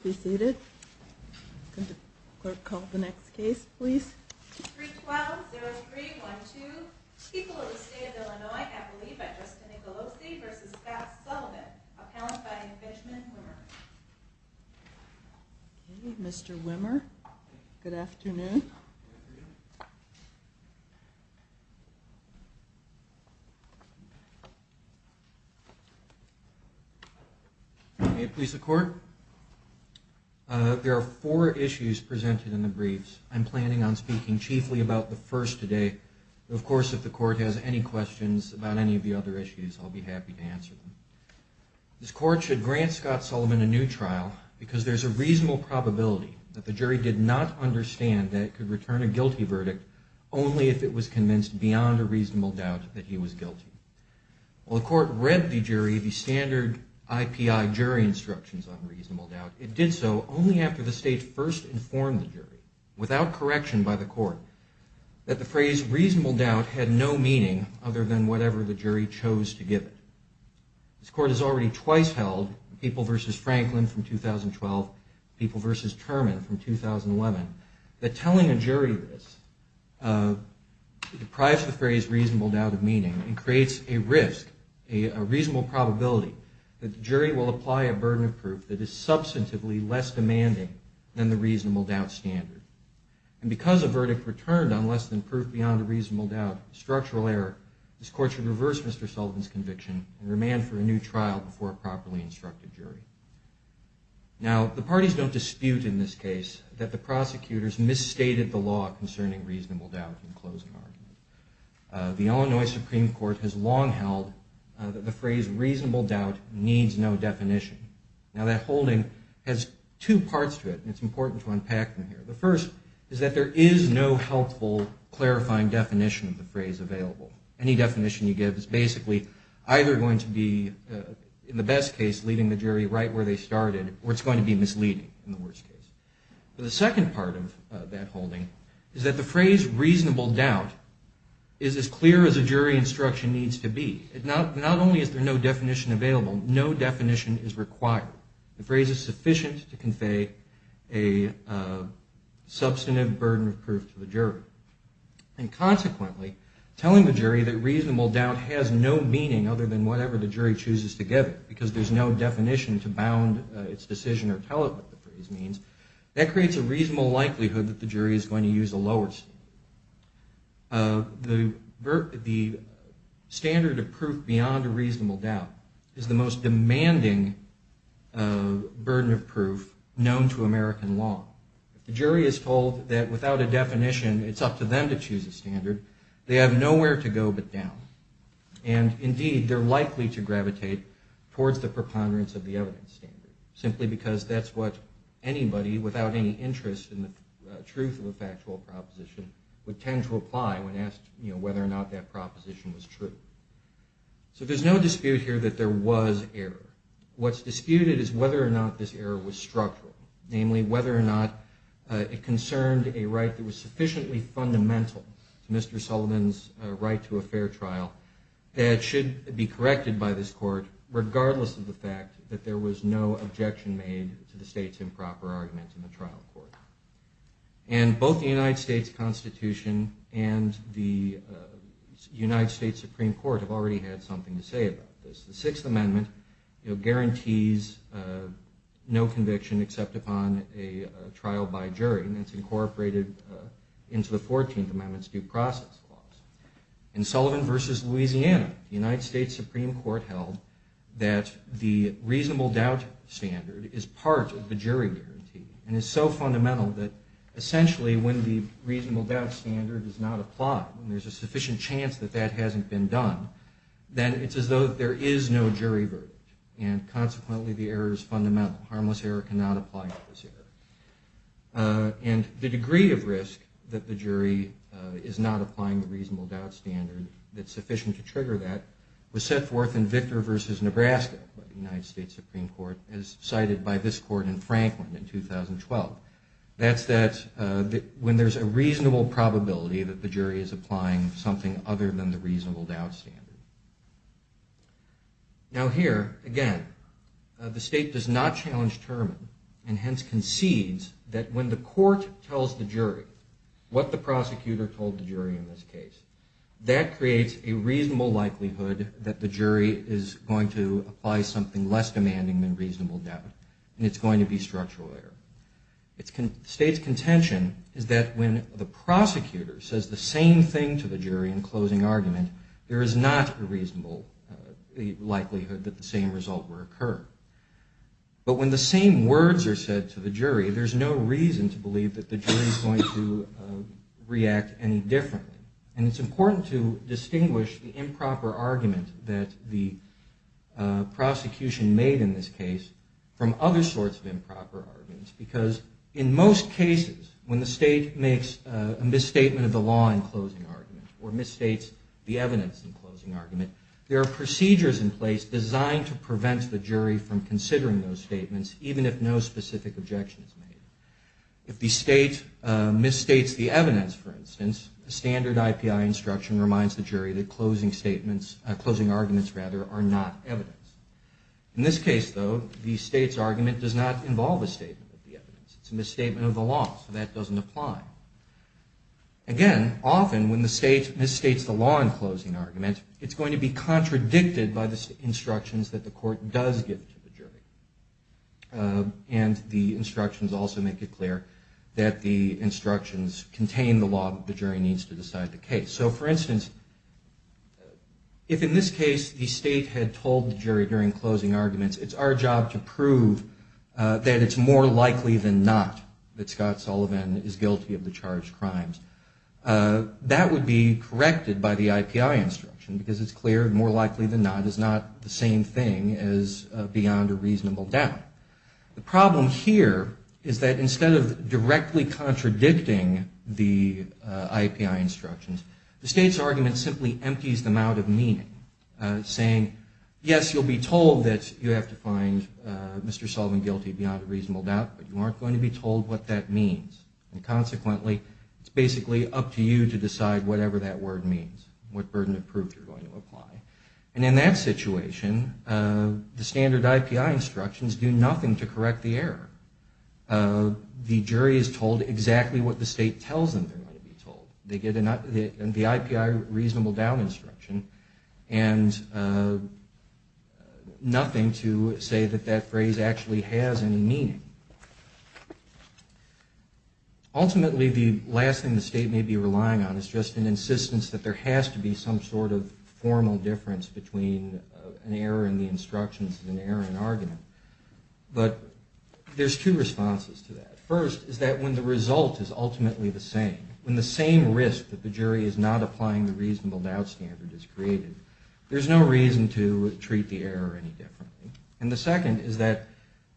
the seated. Clerk called the next case, please. Well, there's 312 people in the state of Illinois. I believe that just Nicolosi versus Scott Sullivan. Mr Wimmer. Good afternoon. Hey, please support. There are four issues presented in the briefs. I'm planning on speaking chiefly about the first today. Of course, if the court has any questions about any of the other issues, I'll be happy to answer them. This court should grant Scott Sullivan a new trial because there's a reasonable probability that the jury did not understand that could return a guilty verdict only if it was convinced beyond a reasonable doubt that he was guilty. Well, the court read the jury, the standard I. P. I. Jury instructions on did so only after the state first informed the jury without correction by the court that the phrase reasonable doubt had no meaning other than whatever the jury chose to give it. This court has already twice held people versus Franklin from 2012 people versus Terman from 2011 that telling a jury this, uh, deprives the phrase reasonable doubt of meaning and creates a risk, a reasonable probability that is substantively less demanding than the reasonable doubt standard. And because of verdict returned on less than proof beyond a reasonable doubt structural error, this court should reverse Mr. Sullivan's conviction and remand for a new trial before a properly instructed jury. Now the parties don't dispute in this case that the prosecutors misstated the law concerning reasonable doubt in closing argument. Uh, the Illinois Supreme Court has long held that the phrase reasonable doubt needs no definition. And this holding has two parts to it and it's important to unpack them here. The first is that there is no helpful, clarifying definition of the phrase available. Any definition you give is basically either going to be, uh, in the best case, leaving the jury right where they started, or it's going to be misleading in the worst case. The second part of that holding is that the phrase reasonable doubt is as clear as a jury instruction needs to be. It not, not only is there no definition available, no definition is required. The phrase is sufficient to convey a, uh, substantive burden of proof to the jury. And consequently, telling the jury that reasonable doubt has no meaning other than whatever the jury chooses to get it, because there's no definition to bound its decision or tell it what the phrase means, that creates a reasonable likelihood that the jury is going to use a lower standard. Uh, the, the standard of proof beyond a reasonable doubt is the most demanding, uh, burden of proof known to American law. If the jury is told that without a definition, it's up to them to choose a standard, they have nowhere to go but down. And indeed they're likely to gravitate towards the preponderance of the evidence standard, simply because that's what anybody without any interest in the truth of a factual proposition would tend to apply when they thought that proposition was true. So there's no dispute here that there was error. What's disputed is whether or not this error was structural, namely whether or not, uh, it concerned a right that was sufficiently fundamental to Mr. Sullivan's, uh, right to a fair trial that should be corrected by this court, regardless of the fact that there was no objection made to the state's improper arguments in the trial court. And both the United States Constitution and the, uh, United States Supreme Court have already had something to say about this. The Sixth Amendment, you know, guarantees, uh, no conviction except upon a trial by jury. And that's incorporated, uh, into the Fourteenth Amendment's due process clause. In Sullivan v. Louisiana, the United States Supreme Court held that the reasonable doubt standard is part of the jury guarantee and is so fundamental that essentially when the reasonable doubt standard does not apply, when there's a sufficient chance that that hasn't been done, then it's as though there is no jury verdict. And consequently, the error is fundamental. Harmless error cannot apply to this error. Uh, and the degree of risk that the jury, uh, is not applying the reasonable doubt standard that's sufficient to trigger that was set forth in Victor v. Nebraska by the United States Supreme Court, as cited by this court in Franklin in 2012. That's that, uh, when there's a reasonable probability that the jury is applying something other than the reasonable doubt standard. Now here, again, uh, the state does not challenge Terman and hence concedes that when the court tells the jury what the prosecutor told the jury in this case, that creates a reasonable likelihood that the jury is going to apply something less demanding than it's going to be structural error. State's contention is that when the prosecutor says the same thing to the jury in closing argument, there is not a reasonable likelihood that the same result will occur. But when the same words are said to the jury, there's no reason to believe that the jury is going to react any differently. And it's important to distinguish the other sorts of improper arguments because in most cases, when the state makes a misstatement of the law in closing argument or misstates the evidence in closing argument, there are procedures in place designed to prevent the jury from considering those statements, even if no specific objection is made. If the state, uh, misstates the evidence, for instance, the standard IPI instruction reminds the jury that closing statements, uh, closing arguments rather are not evidence. In this case though, the state's argument does not involve a statement of the evidence. It's a misstatement of the law, so that doesn't apply. Again, often when the state misstates the law in closing argument, it's going to be contradicted by the instructions that the court does give to the jury. Uh, and the instructions also make it clear that the instructions contain the law that the jury needs to decide the case. So for instance, if in this case, it's our job to prove, uh, that it's more likely than not that Scott Sullivan is guilty of the charged crimes, uh, that would be corrected by the IPI instruction because it's clear more likely than not is not the same thing as, uh, beyond a reasonable doubt. The problem here is that instead of directly contradicting the, uh, IPI instructions, the state's argument simply empties them out of meaning, uh, saying, yes, you'll be told that you have to find, uh, Mr. Sullivan guilty beyond a reasonable doubt, but you aren't going to be told what that means. And consequently, it's basically up to you to decide whatever that word means, what burden of proof you're going to apply. And in that situation, uh, the standard IPI instructions do nothing to correct the error. Uh, the jury is told exactly what the state tells them they're going to be told. They get the IPI reasonable doubt instruction and, uh, nothing to say that that phrase actually has any meaning. Ultimately, the last thing the state may be relying on is just an insistence that there has to be some sort of formal difference between an error in the instructions and an error in argument. But there's two responses to that. First is that when the result is ultimately the same, when the same risk that the jury is not applying the reasonable doubt standard is created, there's no reason to treat the error any differently. And the second is that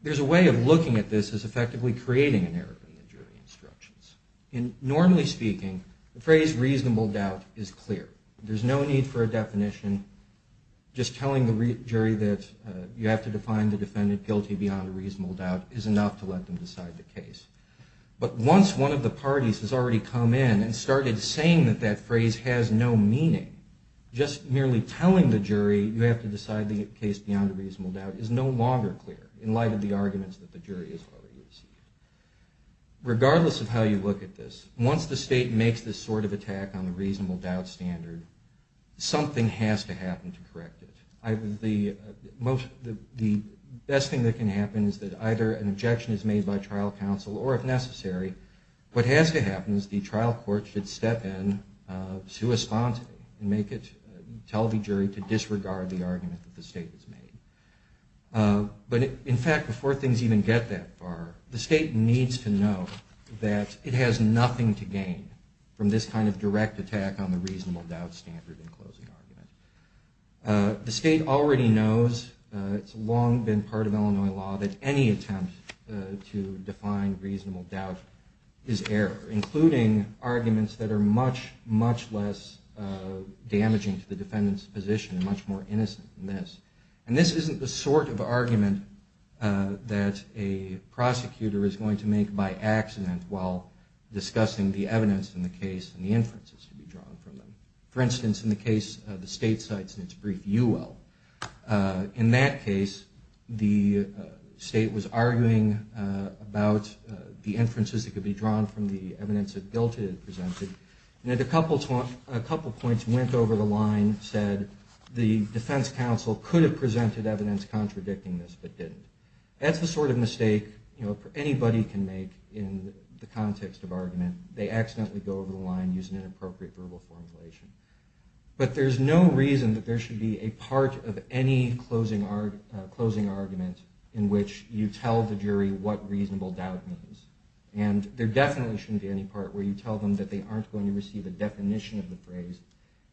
there's a way of looking at this as effectively creating an error in the jury instructions. And normally speaking, the phrase reasonable doubt is clear. There's no need for a definition just telling the jury that, uh, you have to define the defendant guilty beyond a reasonable doubt is enough to let them decide the case. But once one of the parties has already come in and started saying that that phrase has no meaning, just merely telling the jury you have to decide the case beyond a reasonable doubt is no longer clear in light of the arguments that the jury has already received. Regardless of how you look at this, once the state makes this sort of attack on the reasonable doubt standard, something has to happen to correct it. The best thing that can happen is that either an objection is made by trial counsel, or if necessary, what has to happen is the trial court should step in sui sponte and make it, tell the jury to disregard the argument that the state has made. But in fact, before things even get that far, the state needs to know that it has nothing to gain from this kind of direct attack on the reasonable doubt standard in closing argument. The state already knows, it's long been part of Illinois law, that any attempt to define reasonable doubt is error, including arguments that are much, much less damaging to the defendant's position and much more innocent than this. And this isn't the sort of argument that a prosecutor is going to make by accident while discussing the evidence. For instance, in the case of the state cites in its brief UL. In that case, the state was arguing about the inferences that could be drawn from the evidence that GILTED presented, and a couple points went over the line, said the defense counsel could have presented evidence contradicting this, but didn't. That's the sort of mistake anybody can make in the context of argument. They can't accidentally go over the line and use an inappropriate verbal formulation. But there's no reason that there should be a part of any closing argument in which you tell the jury what reasonable doubt means. And there definitely shouldn't be any part where you tell them that they aren't going to receive a definition of the phrase,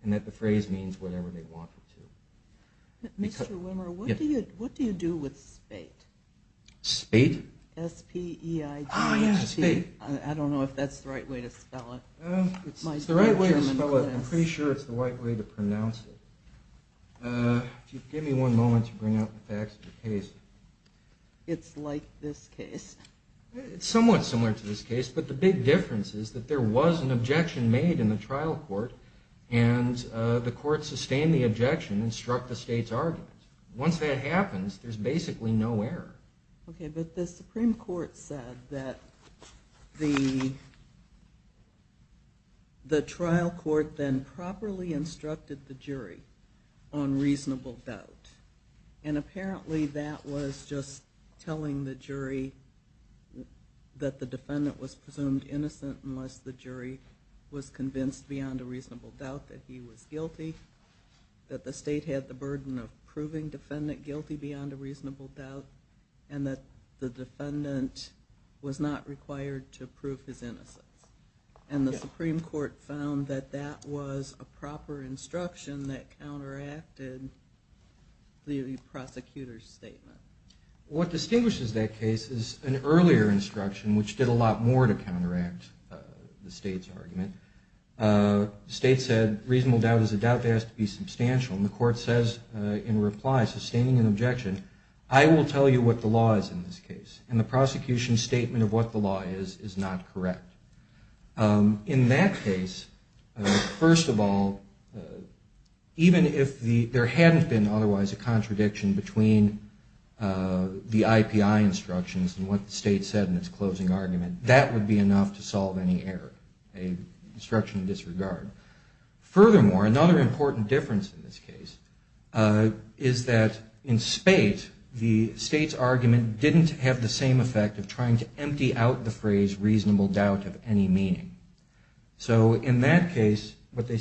and that the phrase means whatever they want it to. Mr. Wimmer, what do you do with SPATE? SPATE? S-P-E-I-T. Oh, yeah, SPATE. I don't know if that's the right way to spell it. It's the right way to spell it. I'm pretty sure it's the right way to pronounce it. Give me one moment to bring out the facts of the case. It's like this case. It's somewhat similar to this case, but the big difference is that there was an objection made in the trial court, and the court sustained the objection and struck the state's argument. Once that happens, there's basically no error. Okay, but the Supreme Court said that the trial court then properly instructed the jury on reasonable doubt, and apparently that was just telling the jury that the defendant was presumed innocent unless the jury was convinced beyond a reasonable doubt that he was guilty, that the state had the burden of proving defendant guilty beyond a reasonable doubt, and that the defendant was not required to prove his innocence. And the Supreme Court found that that was a proper instruction that counteracted the prosecutor's statement. What distinguishes that case is an earlier instruction, which did a lot more to counteract the state's argument. The state said reasonable doubt is a doubt that has to be substantial, and the I will tell you what the law is in this case, and the prosecution statement of what the law is is not correct. In that case, first of all, even if there hadn't been otherwise a contradiction between the IPI instructions and what the state said in its closing argument, that would be enough to solve any error, an instruction in disregard. Furthermore, another important difference in this case is that in spate, the state's argument didn't have the same effect of trying to empty out the phrase reasonable doubt of any meaning. So in that case, what the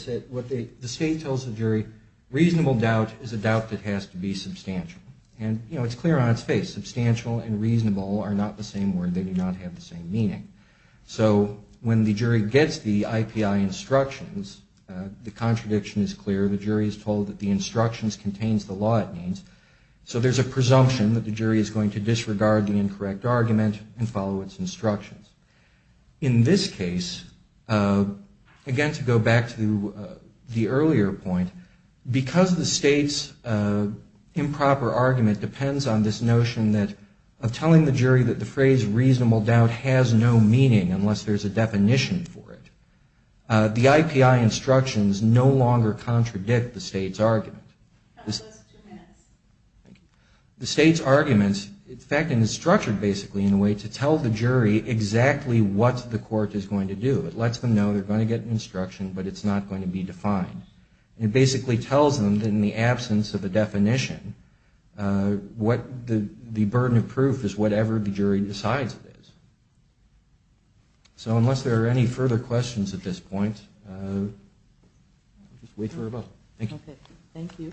state tells the jury, reasonable doubt is a doubt that has to be substantial. And it's clear on its face, substantial and reasonable are not the same word. They do not have the same meaning. So when the jury gets the IPI instructions, the contradiction is clear. The jury is told that the instructions contains the law it needs. So there's a presumption that the jury is going to disregard the incorrect argument and follow its instructions. In this case, again, to go back to the earlier point, because the state's improper argument depends on this notion of telling the jury that the phrase reasonable doubt has no meaning unless there's a contradiction. The IPI instructions no longer contradict the state's argument. The state's argument, in fact, is structured basically in a way to tell the jury exactly what the court is going to do. It lets them know they're going to get an instruction, but it's not going to be defined. It basically tells them that in the absence of a So unless there are any further questions at this point, we'll just wait for a vote. Thank you. Thank you.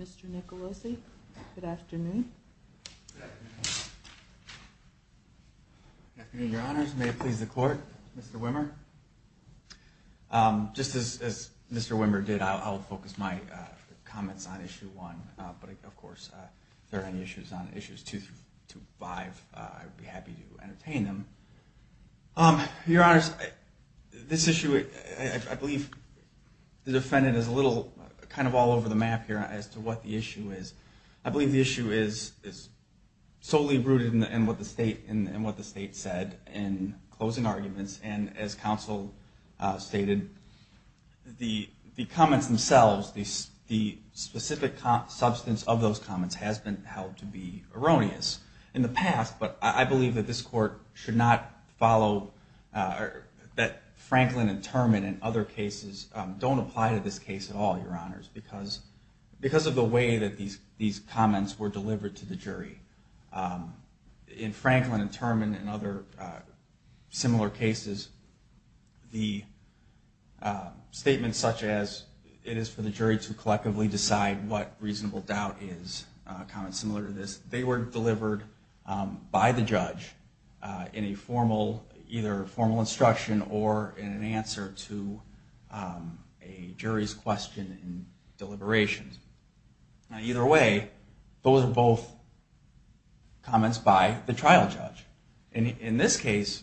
Mr. Nicolosi, good afternoon. Good afternoon, Your Honors. May it please the Court. Mr. Wimmer. Just as Mr. Wimmer did, I'll focus my comments on Issue 1, but of course, if there are any issues on Issues 2 through 5, I would be happy to entertain them. Your Honors, this issue, I believe the defendant is a little kind of all over the map here as to what the issue is. I believe the issue is solely rooted in what the state said in what the defense counsel stated. The comments themselves, the specific substance of those comments has been held to be erroneous in the past, but I believe that this court should not follow that Franklin and Turman and other cases don't apply to this case at all, Your Honors, because of the way that these comments were delivered to the jury. In Franklin and Turman and other similar cases, the statements such as, it is for the jury to collectively decide what reasonable doubt is, comments similar to this, they were delivered by the judge in a formal, either formal instruction or in an answer to a jury's question and deliberations. Either way, those are both comments by the trial judge. In this case,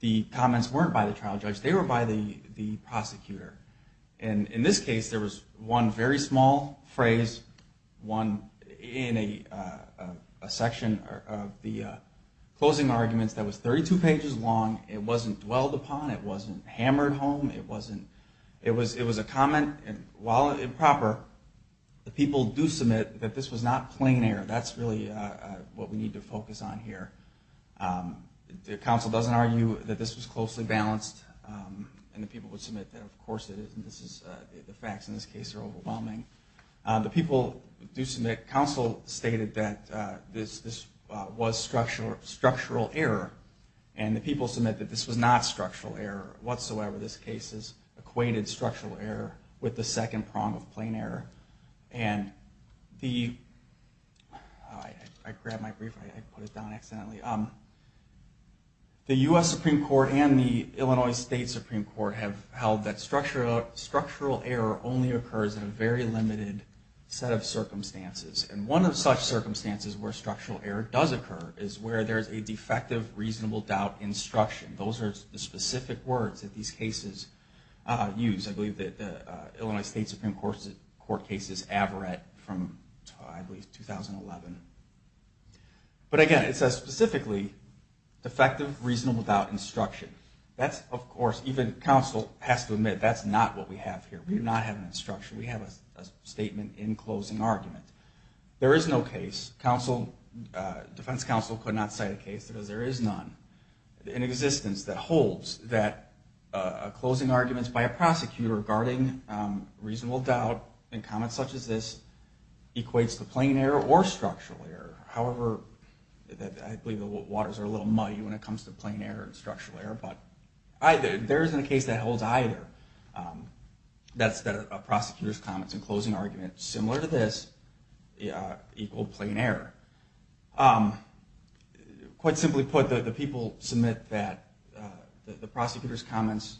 the comments weren't by the trial judge. They were by the prosecutor. In this case, there was one very small phrase, one in a section of the closing arguments that was 32 pages long. It wasn't dwelled upon. It wasn't hammered home. It was a comment, and while improper, the people do submit that this was not plain error. That's really what we need to focus on here. The counsel doesn't argue that this was closely balanced, and the people would submit that, of course it is, and the facts in this case are overwhelming. The people do submit, counsel stated that this was structural error, and the people submit that this was not structural error whatsoever. This case is acquainted structural error with the second prong of plain error. I grabbed my brief, I put it down accidentally. The U.S. Supreme Court and the Illinois State Supreme Court have held that structural error only occurs in a very limited set of circumstances, and one of such circumstances where structural error does occur is where there's a defective reasonable doubt instruction. Those are the specific words that these cases use. I believe that the Illinois State Supreme Court case is Averett from, I believe, 2011. But again, it says specifically defective reasonable doubt instruction. That's, of course, even counsel has to admit that's not what we have here. We do not have an instruction. We have a statement in closing argument. There is no case, defense counsel could not cite a case because there is none. In existence that holds that closing arguments by a prosecutor regarding reasonable doubt and comments such as this equates to plain error or structural error. However, I believe the waters are a little muddy when it comes to plain error and structural error, but there isn't a case that holds either. That's that a prosecutor's comments in closing argument, similar to this, equal plain error. Quite simply put, the people submit that the prosecutor's comments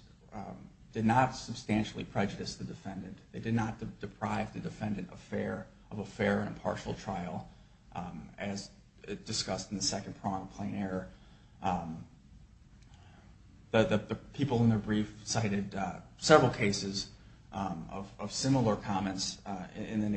did not substantially prejudice the defendant. They did not deprive the defendant of a fair and impartial trial as discussed in the second prong, plain error. The people in the brief cited several cases of similar comments in the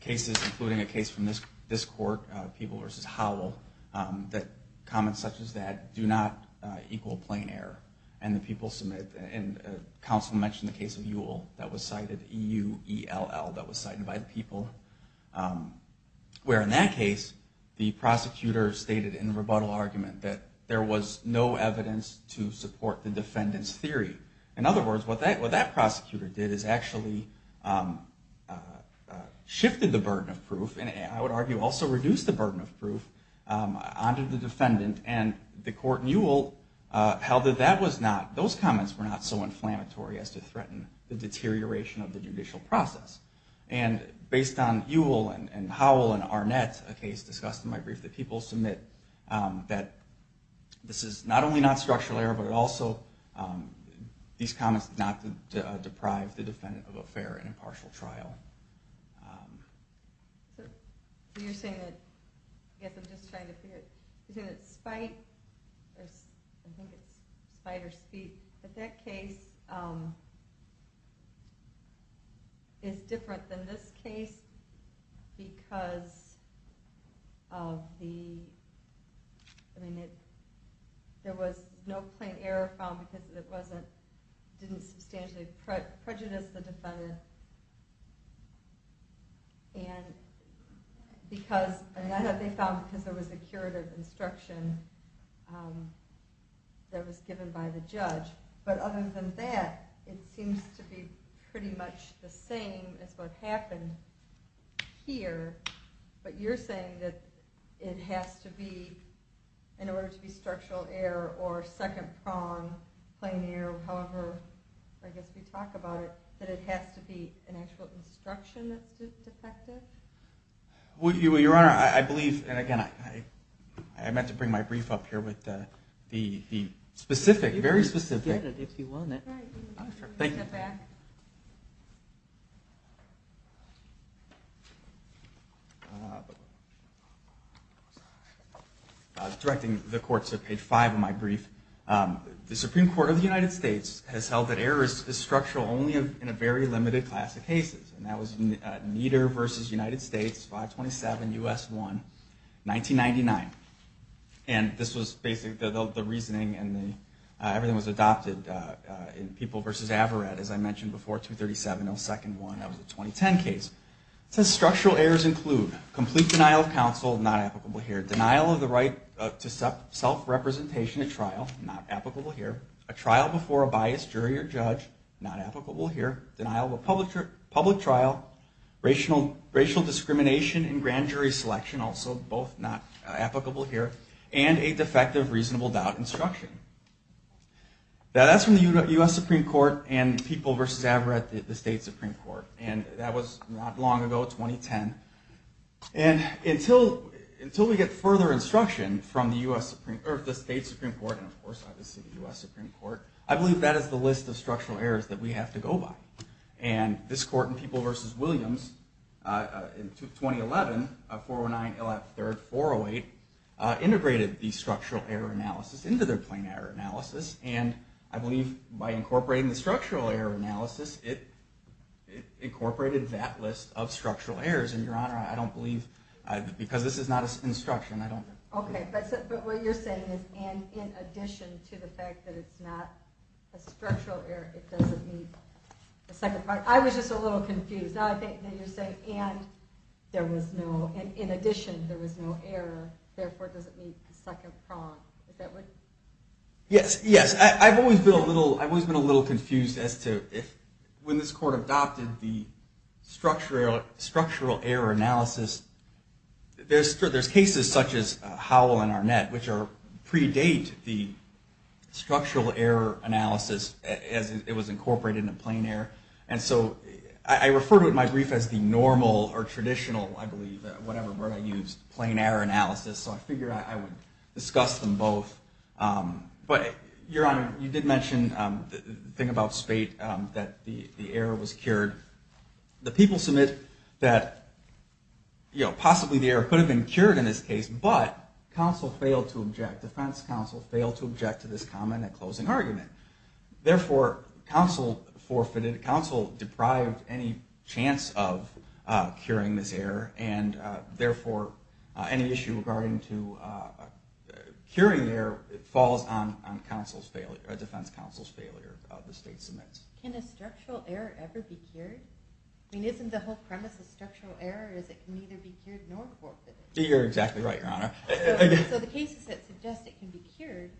cases including a case from this court, people versus Howell, that comments such as that do not equal plain error. The people submit and counsel mentioned the case of Ewell that was cited, E-U-E-L-L, that was cited by the people. Where in that case, the prosecutor stated in the rebuttal argument that there was no evidence to support the defendant's theory. In other words, what that prosecutor did is actually shifted the burden of proof and I would argue also reduced the burden of proof onto the defendant and the court in Ewell held that that was not, those comments were not so inflammatory as to threaten the deterioration of the judicial process. And based on Ewell and Howell and Arnett, a case discussed in my brief, the people submit that this is not only not structural error but also these comments did not deprive the defendant of a fair and impartial trial. So you're saying that, I guess I'm just trying to figure, you're saying that spite, I think it's spite or speed, that that case is different than this case because of the, I mean it, there was no plain error found because it wasn't, didn't substantially prejudice the defendant and because, I mean that they found because there was a curative instruction that was given by the judge, but other than that, it seems to be pretty much the same as what happened here, but you're saying that it has to be, in order to be structural error or second prong plain error, however, I guess we talk about it, that it has to be an actual instruction that's defective? Your Honor, I believe, and again, I meant to bring my brief up here with the specific, very specific. Thank you. Directing the court to page five of my brief, the Supreme Court of the United States has held that error is structural only in a very limited class of cases, and that was Nieder versus United States, 527 U.S. 1, 1999, and this was basically the reasoning, and everything was adopted in People versus Averett, as I mentioned before, 237, no second one, that was a 2010 case. It says structural errors include complete denial of counsel, not applicable here, denial of the right to self-representation at trial, not applicable here, a trial before a biased jury or judge, not applicable here, denial of reasonable doubt instruction. Now, that's from the U.S. Supreme Court and People versus Averett, the State Supreme Court, and that was not long ago, 2010, and until we get further instruction from the State Supreme Court, and of course, obviously, the U.S. Supreme Court, I believe that is the list of structural errors that we have to go by, and this court in People versus Williams, in 2011, 409 LF 3rd, 408, integrated the structural error analysis into their plain error analysis, and I believe by incorporating the structural error analysis, it incorporated that list of structural errors, and Your Honor, I don't believe, because this is not instruction, I don't. Okay, but what you're saying is in addition to the fact that it's not a second prong, I was just a little confused. Now you're saying, and there was no, in addition, there was no error, therefore, does it need a second prong? Yes, yes, I've always been a little confused as to when this court adopted the structural error analysis, there's cases such as Howell and Arnett, which predate the structural error analysis as it was incorporated into plain error and so I refer to it in my brief as the normal or traditional, I believe, whatever word I used, plain error analysis, so I figured I would discuss them both, but Your Honor, you did mention the thing about Spate, that the error was cured. The people submit that possibly the error could have been cured in this case, but counsel failed to object, defense counsel failed to object to this comment in that closing argument. Therefore, counsel forfeited, counsel deprived any chance of curing this error and therefore, any issue regarding to curing the error falls on counsel's failure, defense counsel's failure, the state submits. Can a structural error ever be cured? I mean, isn't the whole premise of structural error is it can neither be You're exactly right, Your Honor. So the cases that suggest it can be cured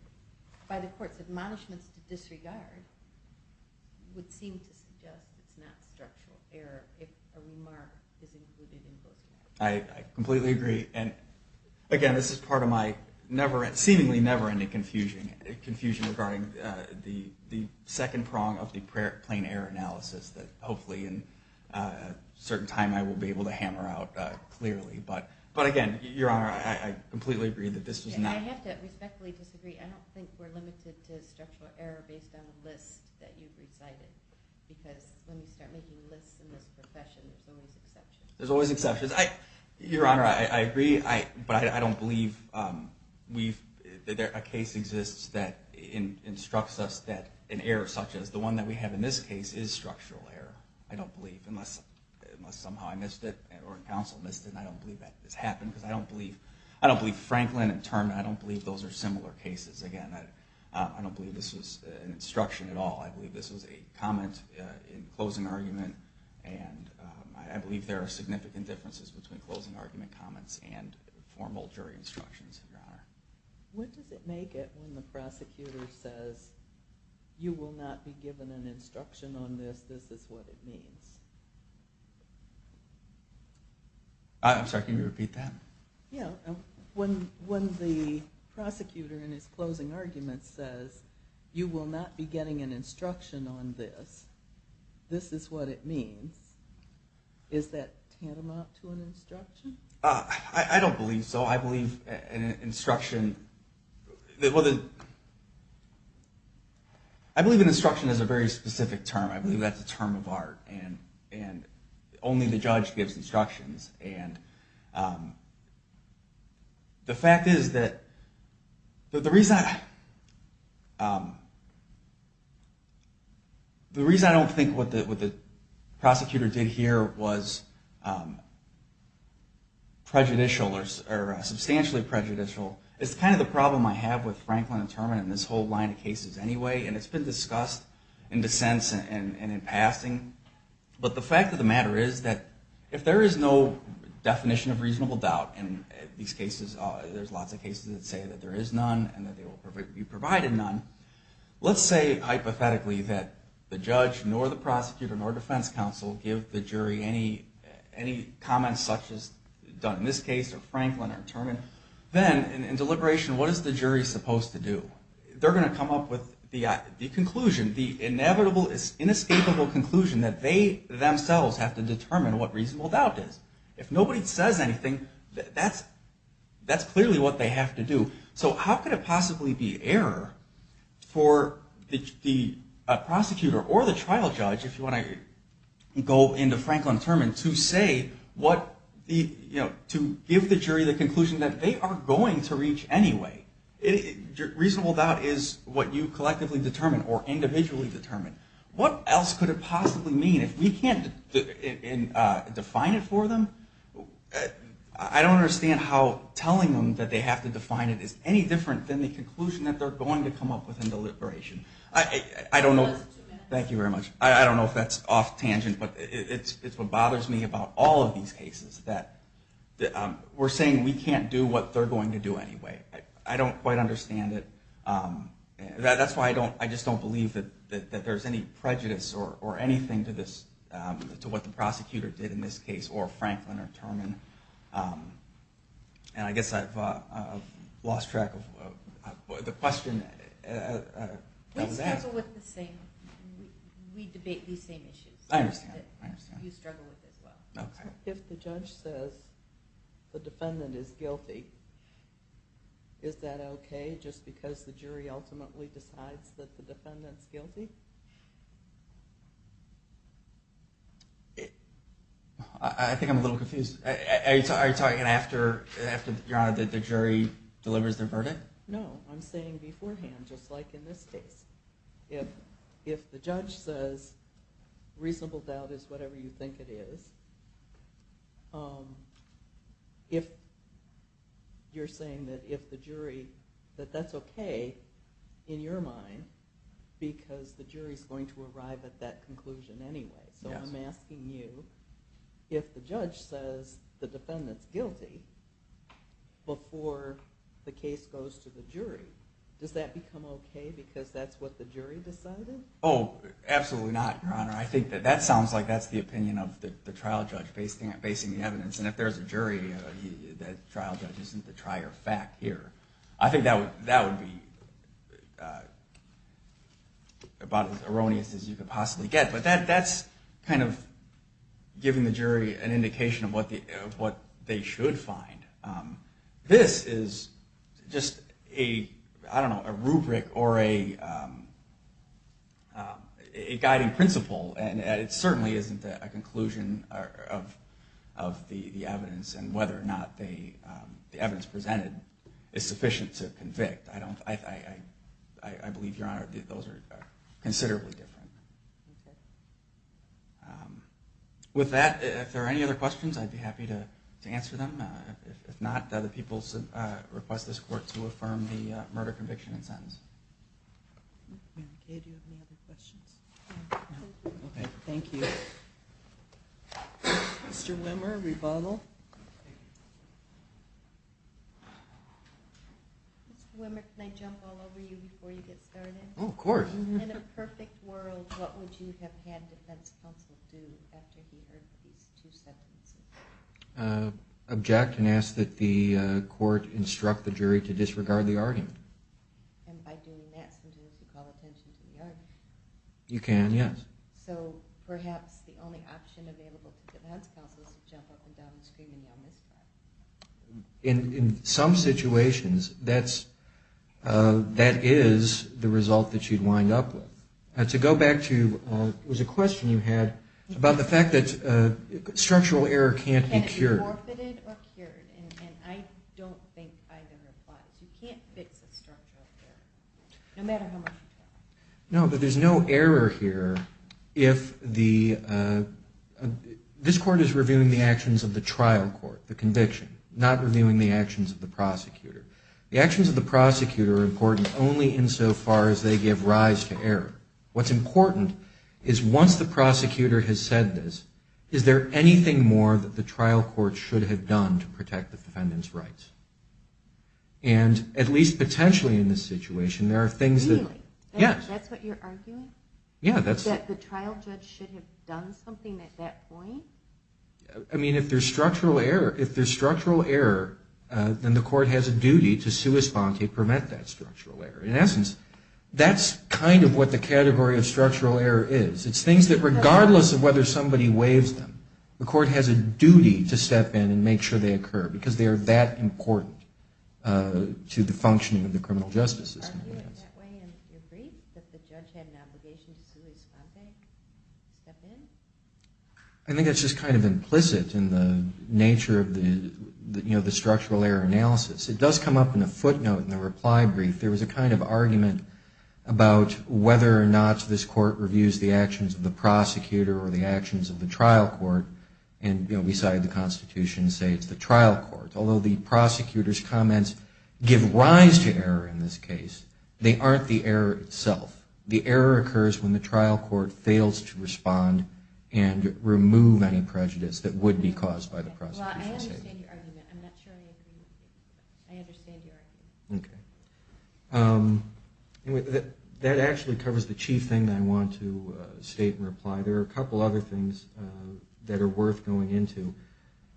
by the court's admonishments to disregard would seem to suggest it's not structural error if a remark is included in closing argument. I completely agree and again, this is part of my seemingly never-ending confusion regarding the second prong of the plain error analysis that hopefully in a certain time I will be able to hammer out clearly, but again, Your Honor, I completely agree that this is not I have to respectfully disagree. I don't think we're limited to structural error based on the list that you've recited because when we start making lists in this profession, there's always exceptions. There's always exceptions. Your Honor, I agree, but I don't believe a case exists that instructs us that an error such as the one that we have in this case is structural error. I don't believe unless somehow I missed it or counsel missed it and I don't believe that this happened because I don't believe Franklin and Terman, I don't believe those are similar cases. Again, I don't believe this was an instruction at all. I believe this was a comment in closing argument and I believe there are significant differences between closing argument comments and formal jury instructions, Your Honor. When does it make it when the prosecutor says you will not be given an instruction on this, this is what it means? I'm sorry, can you repeat that? Yeah. When the prosecutor in his closing argument says you will not be getting an instruction on this, this is what it means, is that tantamount to an instruction? I don't believe so. I believe an instruction, I believe an instruction is a very specific term. I believe that's a term of art and only the judge gives instructions. The fact is that the reason I don't think what the prosecutor did here was prejudicial or substantially prejudicial is kind of the problem I have with Franklin and Terman and this whole line of cases anyway and it's been discussed in dissents and in passing. But the fact of the matter is that if there is no definition of reasonable doubt in these cases, there's lots of cases that say that there is none and that they will be provided none, let's say hypothetically that the judge nor the prosecutor nor defense counsel give the jury any comments such as done in this case or Franklin or Terman, then in deliberation what is the jury supposed to do? They're going to come up with the conclusion, the inevitable, inescapable conclusion that they themselves have to determine what reasonable doubt is. If nobody says anything, that's clearly what they have to do. So how could it possibly be error for the prosecutor or the trial judge, if you want to go into Franklin and Terman, to give the jury the conclusion that they are going to reach anyway? Reasonable doubt is what you collectively determine or individually determine. What else could it possibly mean? If we can't define it for them, I don't understand how telling them that they have to define it is any different than the conclusion that they're going to come up with in deliberation. Thank you very much. I don't know if that's off tangent, but it's what bothers me about all of these cases, that we're saying we can't do what they're going to do anyway. I don't quite understand it. That's why I just don't believe that there's any prejudice or anything to what the prosecutor did in this case, or Franklin or Terman. And I guess I've lost track of the question. We struggle with the same. We debate these same issues. I understand. You struggle with it as well. If the judge says the defendant is guilty, is that okay just because the jury ultimately decides that the defendant's guilty? I think I'm a little confused. Are you talking after the jury delivers their verdict? No. I'm saying beforehand, just like in this case. If the judge says reasonable doubt is whatever you think it is, you're saying that if the jury, that that's okay in your mind because the jury's going to arrive at that conclusion anyway. So I'm asking you, if the judge says the defendant's guilty before the case does that become okay because that's what the jury decided? Oh, absolutely not, Your Honor. I think that that sounds like that's the opinion of the trial judge basing the evidence. And if there's a jury, that trial judge isn't the trier fact here. I think that would be about as erroneous as you could possibly get. But that's kind of giving the jury an indication of what they should find. This is just a, I don't know, a rubric or a guiding principle. And it certainly isn't a conclusion of the evidence and whether or not the evidence presented is sufficient to convict. I believe, Your Honor, that those are considerably different. With that, if there are any other questions, I'd be happy to answer them. If not, other people request this court to affirm the murder conviction and sentence. Okay, do you have any other questions? Okay, thank you. Mr. Wimmer, rebuttal. Mr. Wimmer, can I jump all over you before you get started? Oh, of course. In a perfect world, what would you have had defense counsel do after he heard these two sentences? Object and ask that the court instruct the jury to disregard the argument. And by doing that, sometimes you call attention to the argument. You can, yes. So perhaps the only option available to defense counsel is to jump up and down and scream and yell, misconduct. In some situations, that is the result that you'd wind up with. To go back to, there was a question you had about the fact that structural error can't be cured. And it's forfeited or cured. And I don't think either applies. You can't fix a structural error, no matter how much you try. No, but there's no error here if the – this court is reviewing the actions of the trial court, the conviction, not reviewing the actions of the prosecutor. The actions of the prosecutor are important only insofar as they give rise to error. What's important is once the prosecutor has said this, is there anything more that the trial court should have done to protect the defendant's rights? And at least potentially in this situation, there are things that – Really? Yes. That's what you're arguing? Yeah, that's – That the trial judge should have done something at that point? I mean, if there's structural error, then the court has a duty to sui sponte, prevent that structural error. In essence, that's kind of what the category of structural error is. It's things that regardless of whether somebody waives them, the court has a duty to step in and make sure they occur because they are that important to the functioning of the criminal justice system. Are you in that way in your brief, that the judge had an obligation to sui sponte, step in? I think that's just kind of implicit in the nature of the structural error analysis. It does come up in a footnote in the reply brief. There was a kind of argument about whether or not this court reviews the actions of the prosecutor or the actions of the trial court and, you know, beside the Constitution, say it's the trial court. Although the prosecutor's comments give rise to error in this case, they aren't the error itself. The error occurs when the trial court fails to respond and remove any prejudice that would be caused by the prosecution. Well, I understand your argument. I'm not sure I agree with you. I understand your argument. Okay. That actually covers the chief thing that I want to state and reply. There are a couple other things that are worth going into.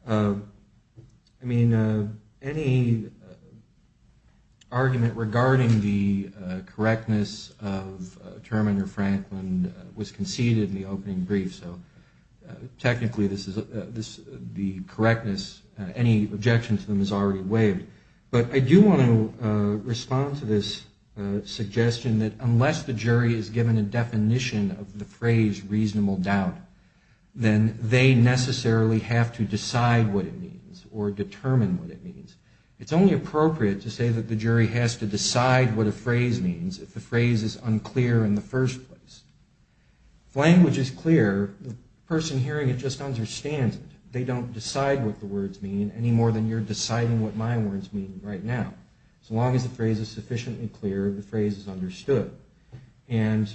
I mean, any argument regarding the correctness of Terminer Franklin was conceded in the opening brief, so technically the correctness, any objection to them is already waived. But I do want to respond to this suggestion that unless the jury is given a definition of the phrase reasonable doubt, then they necessarily have to decide what it means or determine what it means. It's only appropriate to say that the jury has to decide what a phrase means if the phrase is unclear in the first place. If language is clear, the person hearing it just understands it. They don't decide what the words mean any more than you're deciding what my words mean right now. As long as the phrase is sufficiently clear, the phrase is understood. And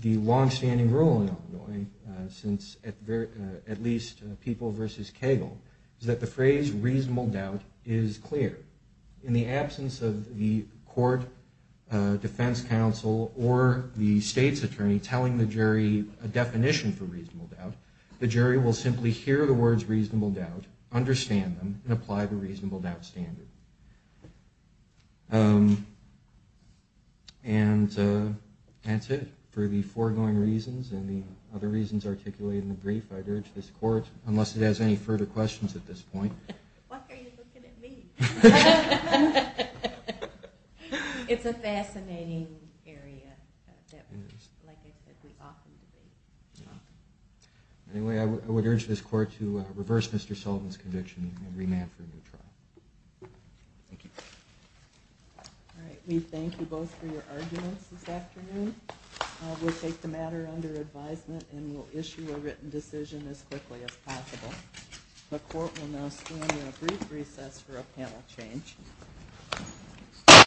the longstanding rule in Illinois, since at least people versus Cagle, is that the phrase reasonable doubt is clear. In the absence of the court, defense counsel, or the state's attorney telling the jury a definition for reasonable doubt, the jury will simply hear the words reasonable doubt, understand them, and apply the reasonable doubt standard. And that's it. For the foregoing reasons and the other reasons articulated in the brief, I'd urge this court, unless it has any further questions at this point. Why are you looking at me? It's a fascinating area that, like I said, we often debate. Anyway, I would urge this court to reverse Mr. Sullivan's conviction and remand for a new trial. Thank you. All right. We thank you both for your arguments this afternoon. We'll take the matter under advisement and we'll issue a written decision as quickly as possible. The court will now stand in a brief recess for a panel change.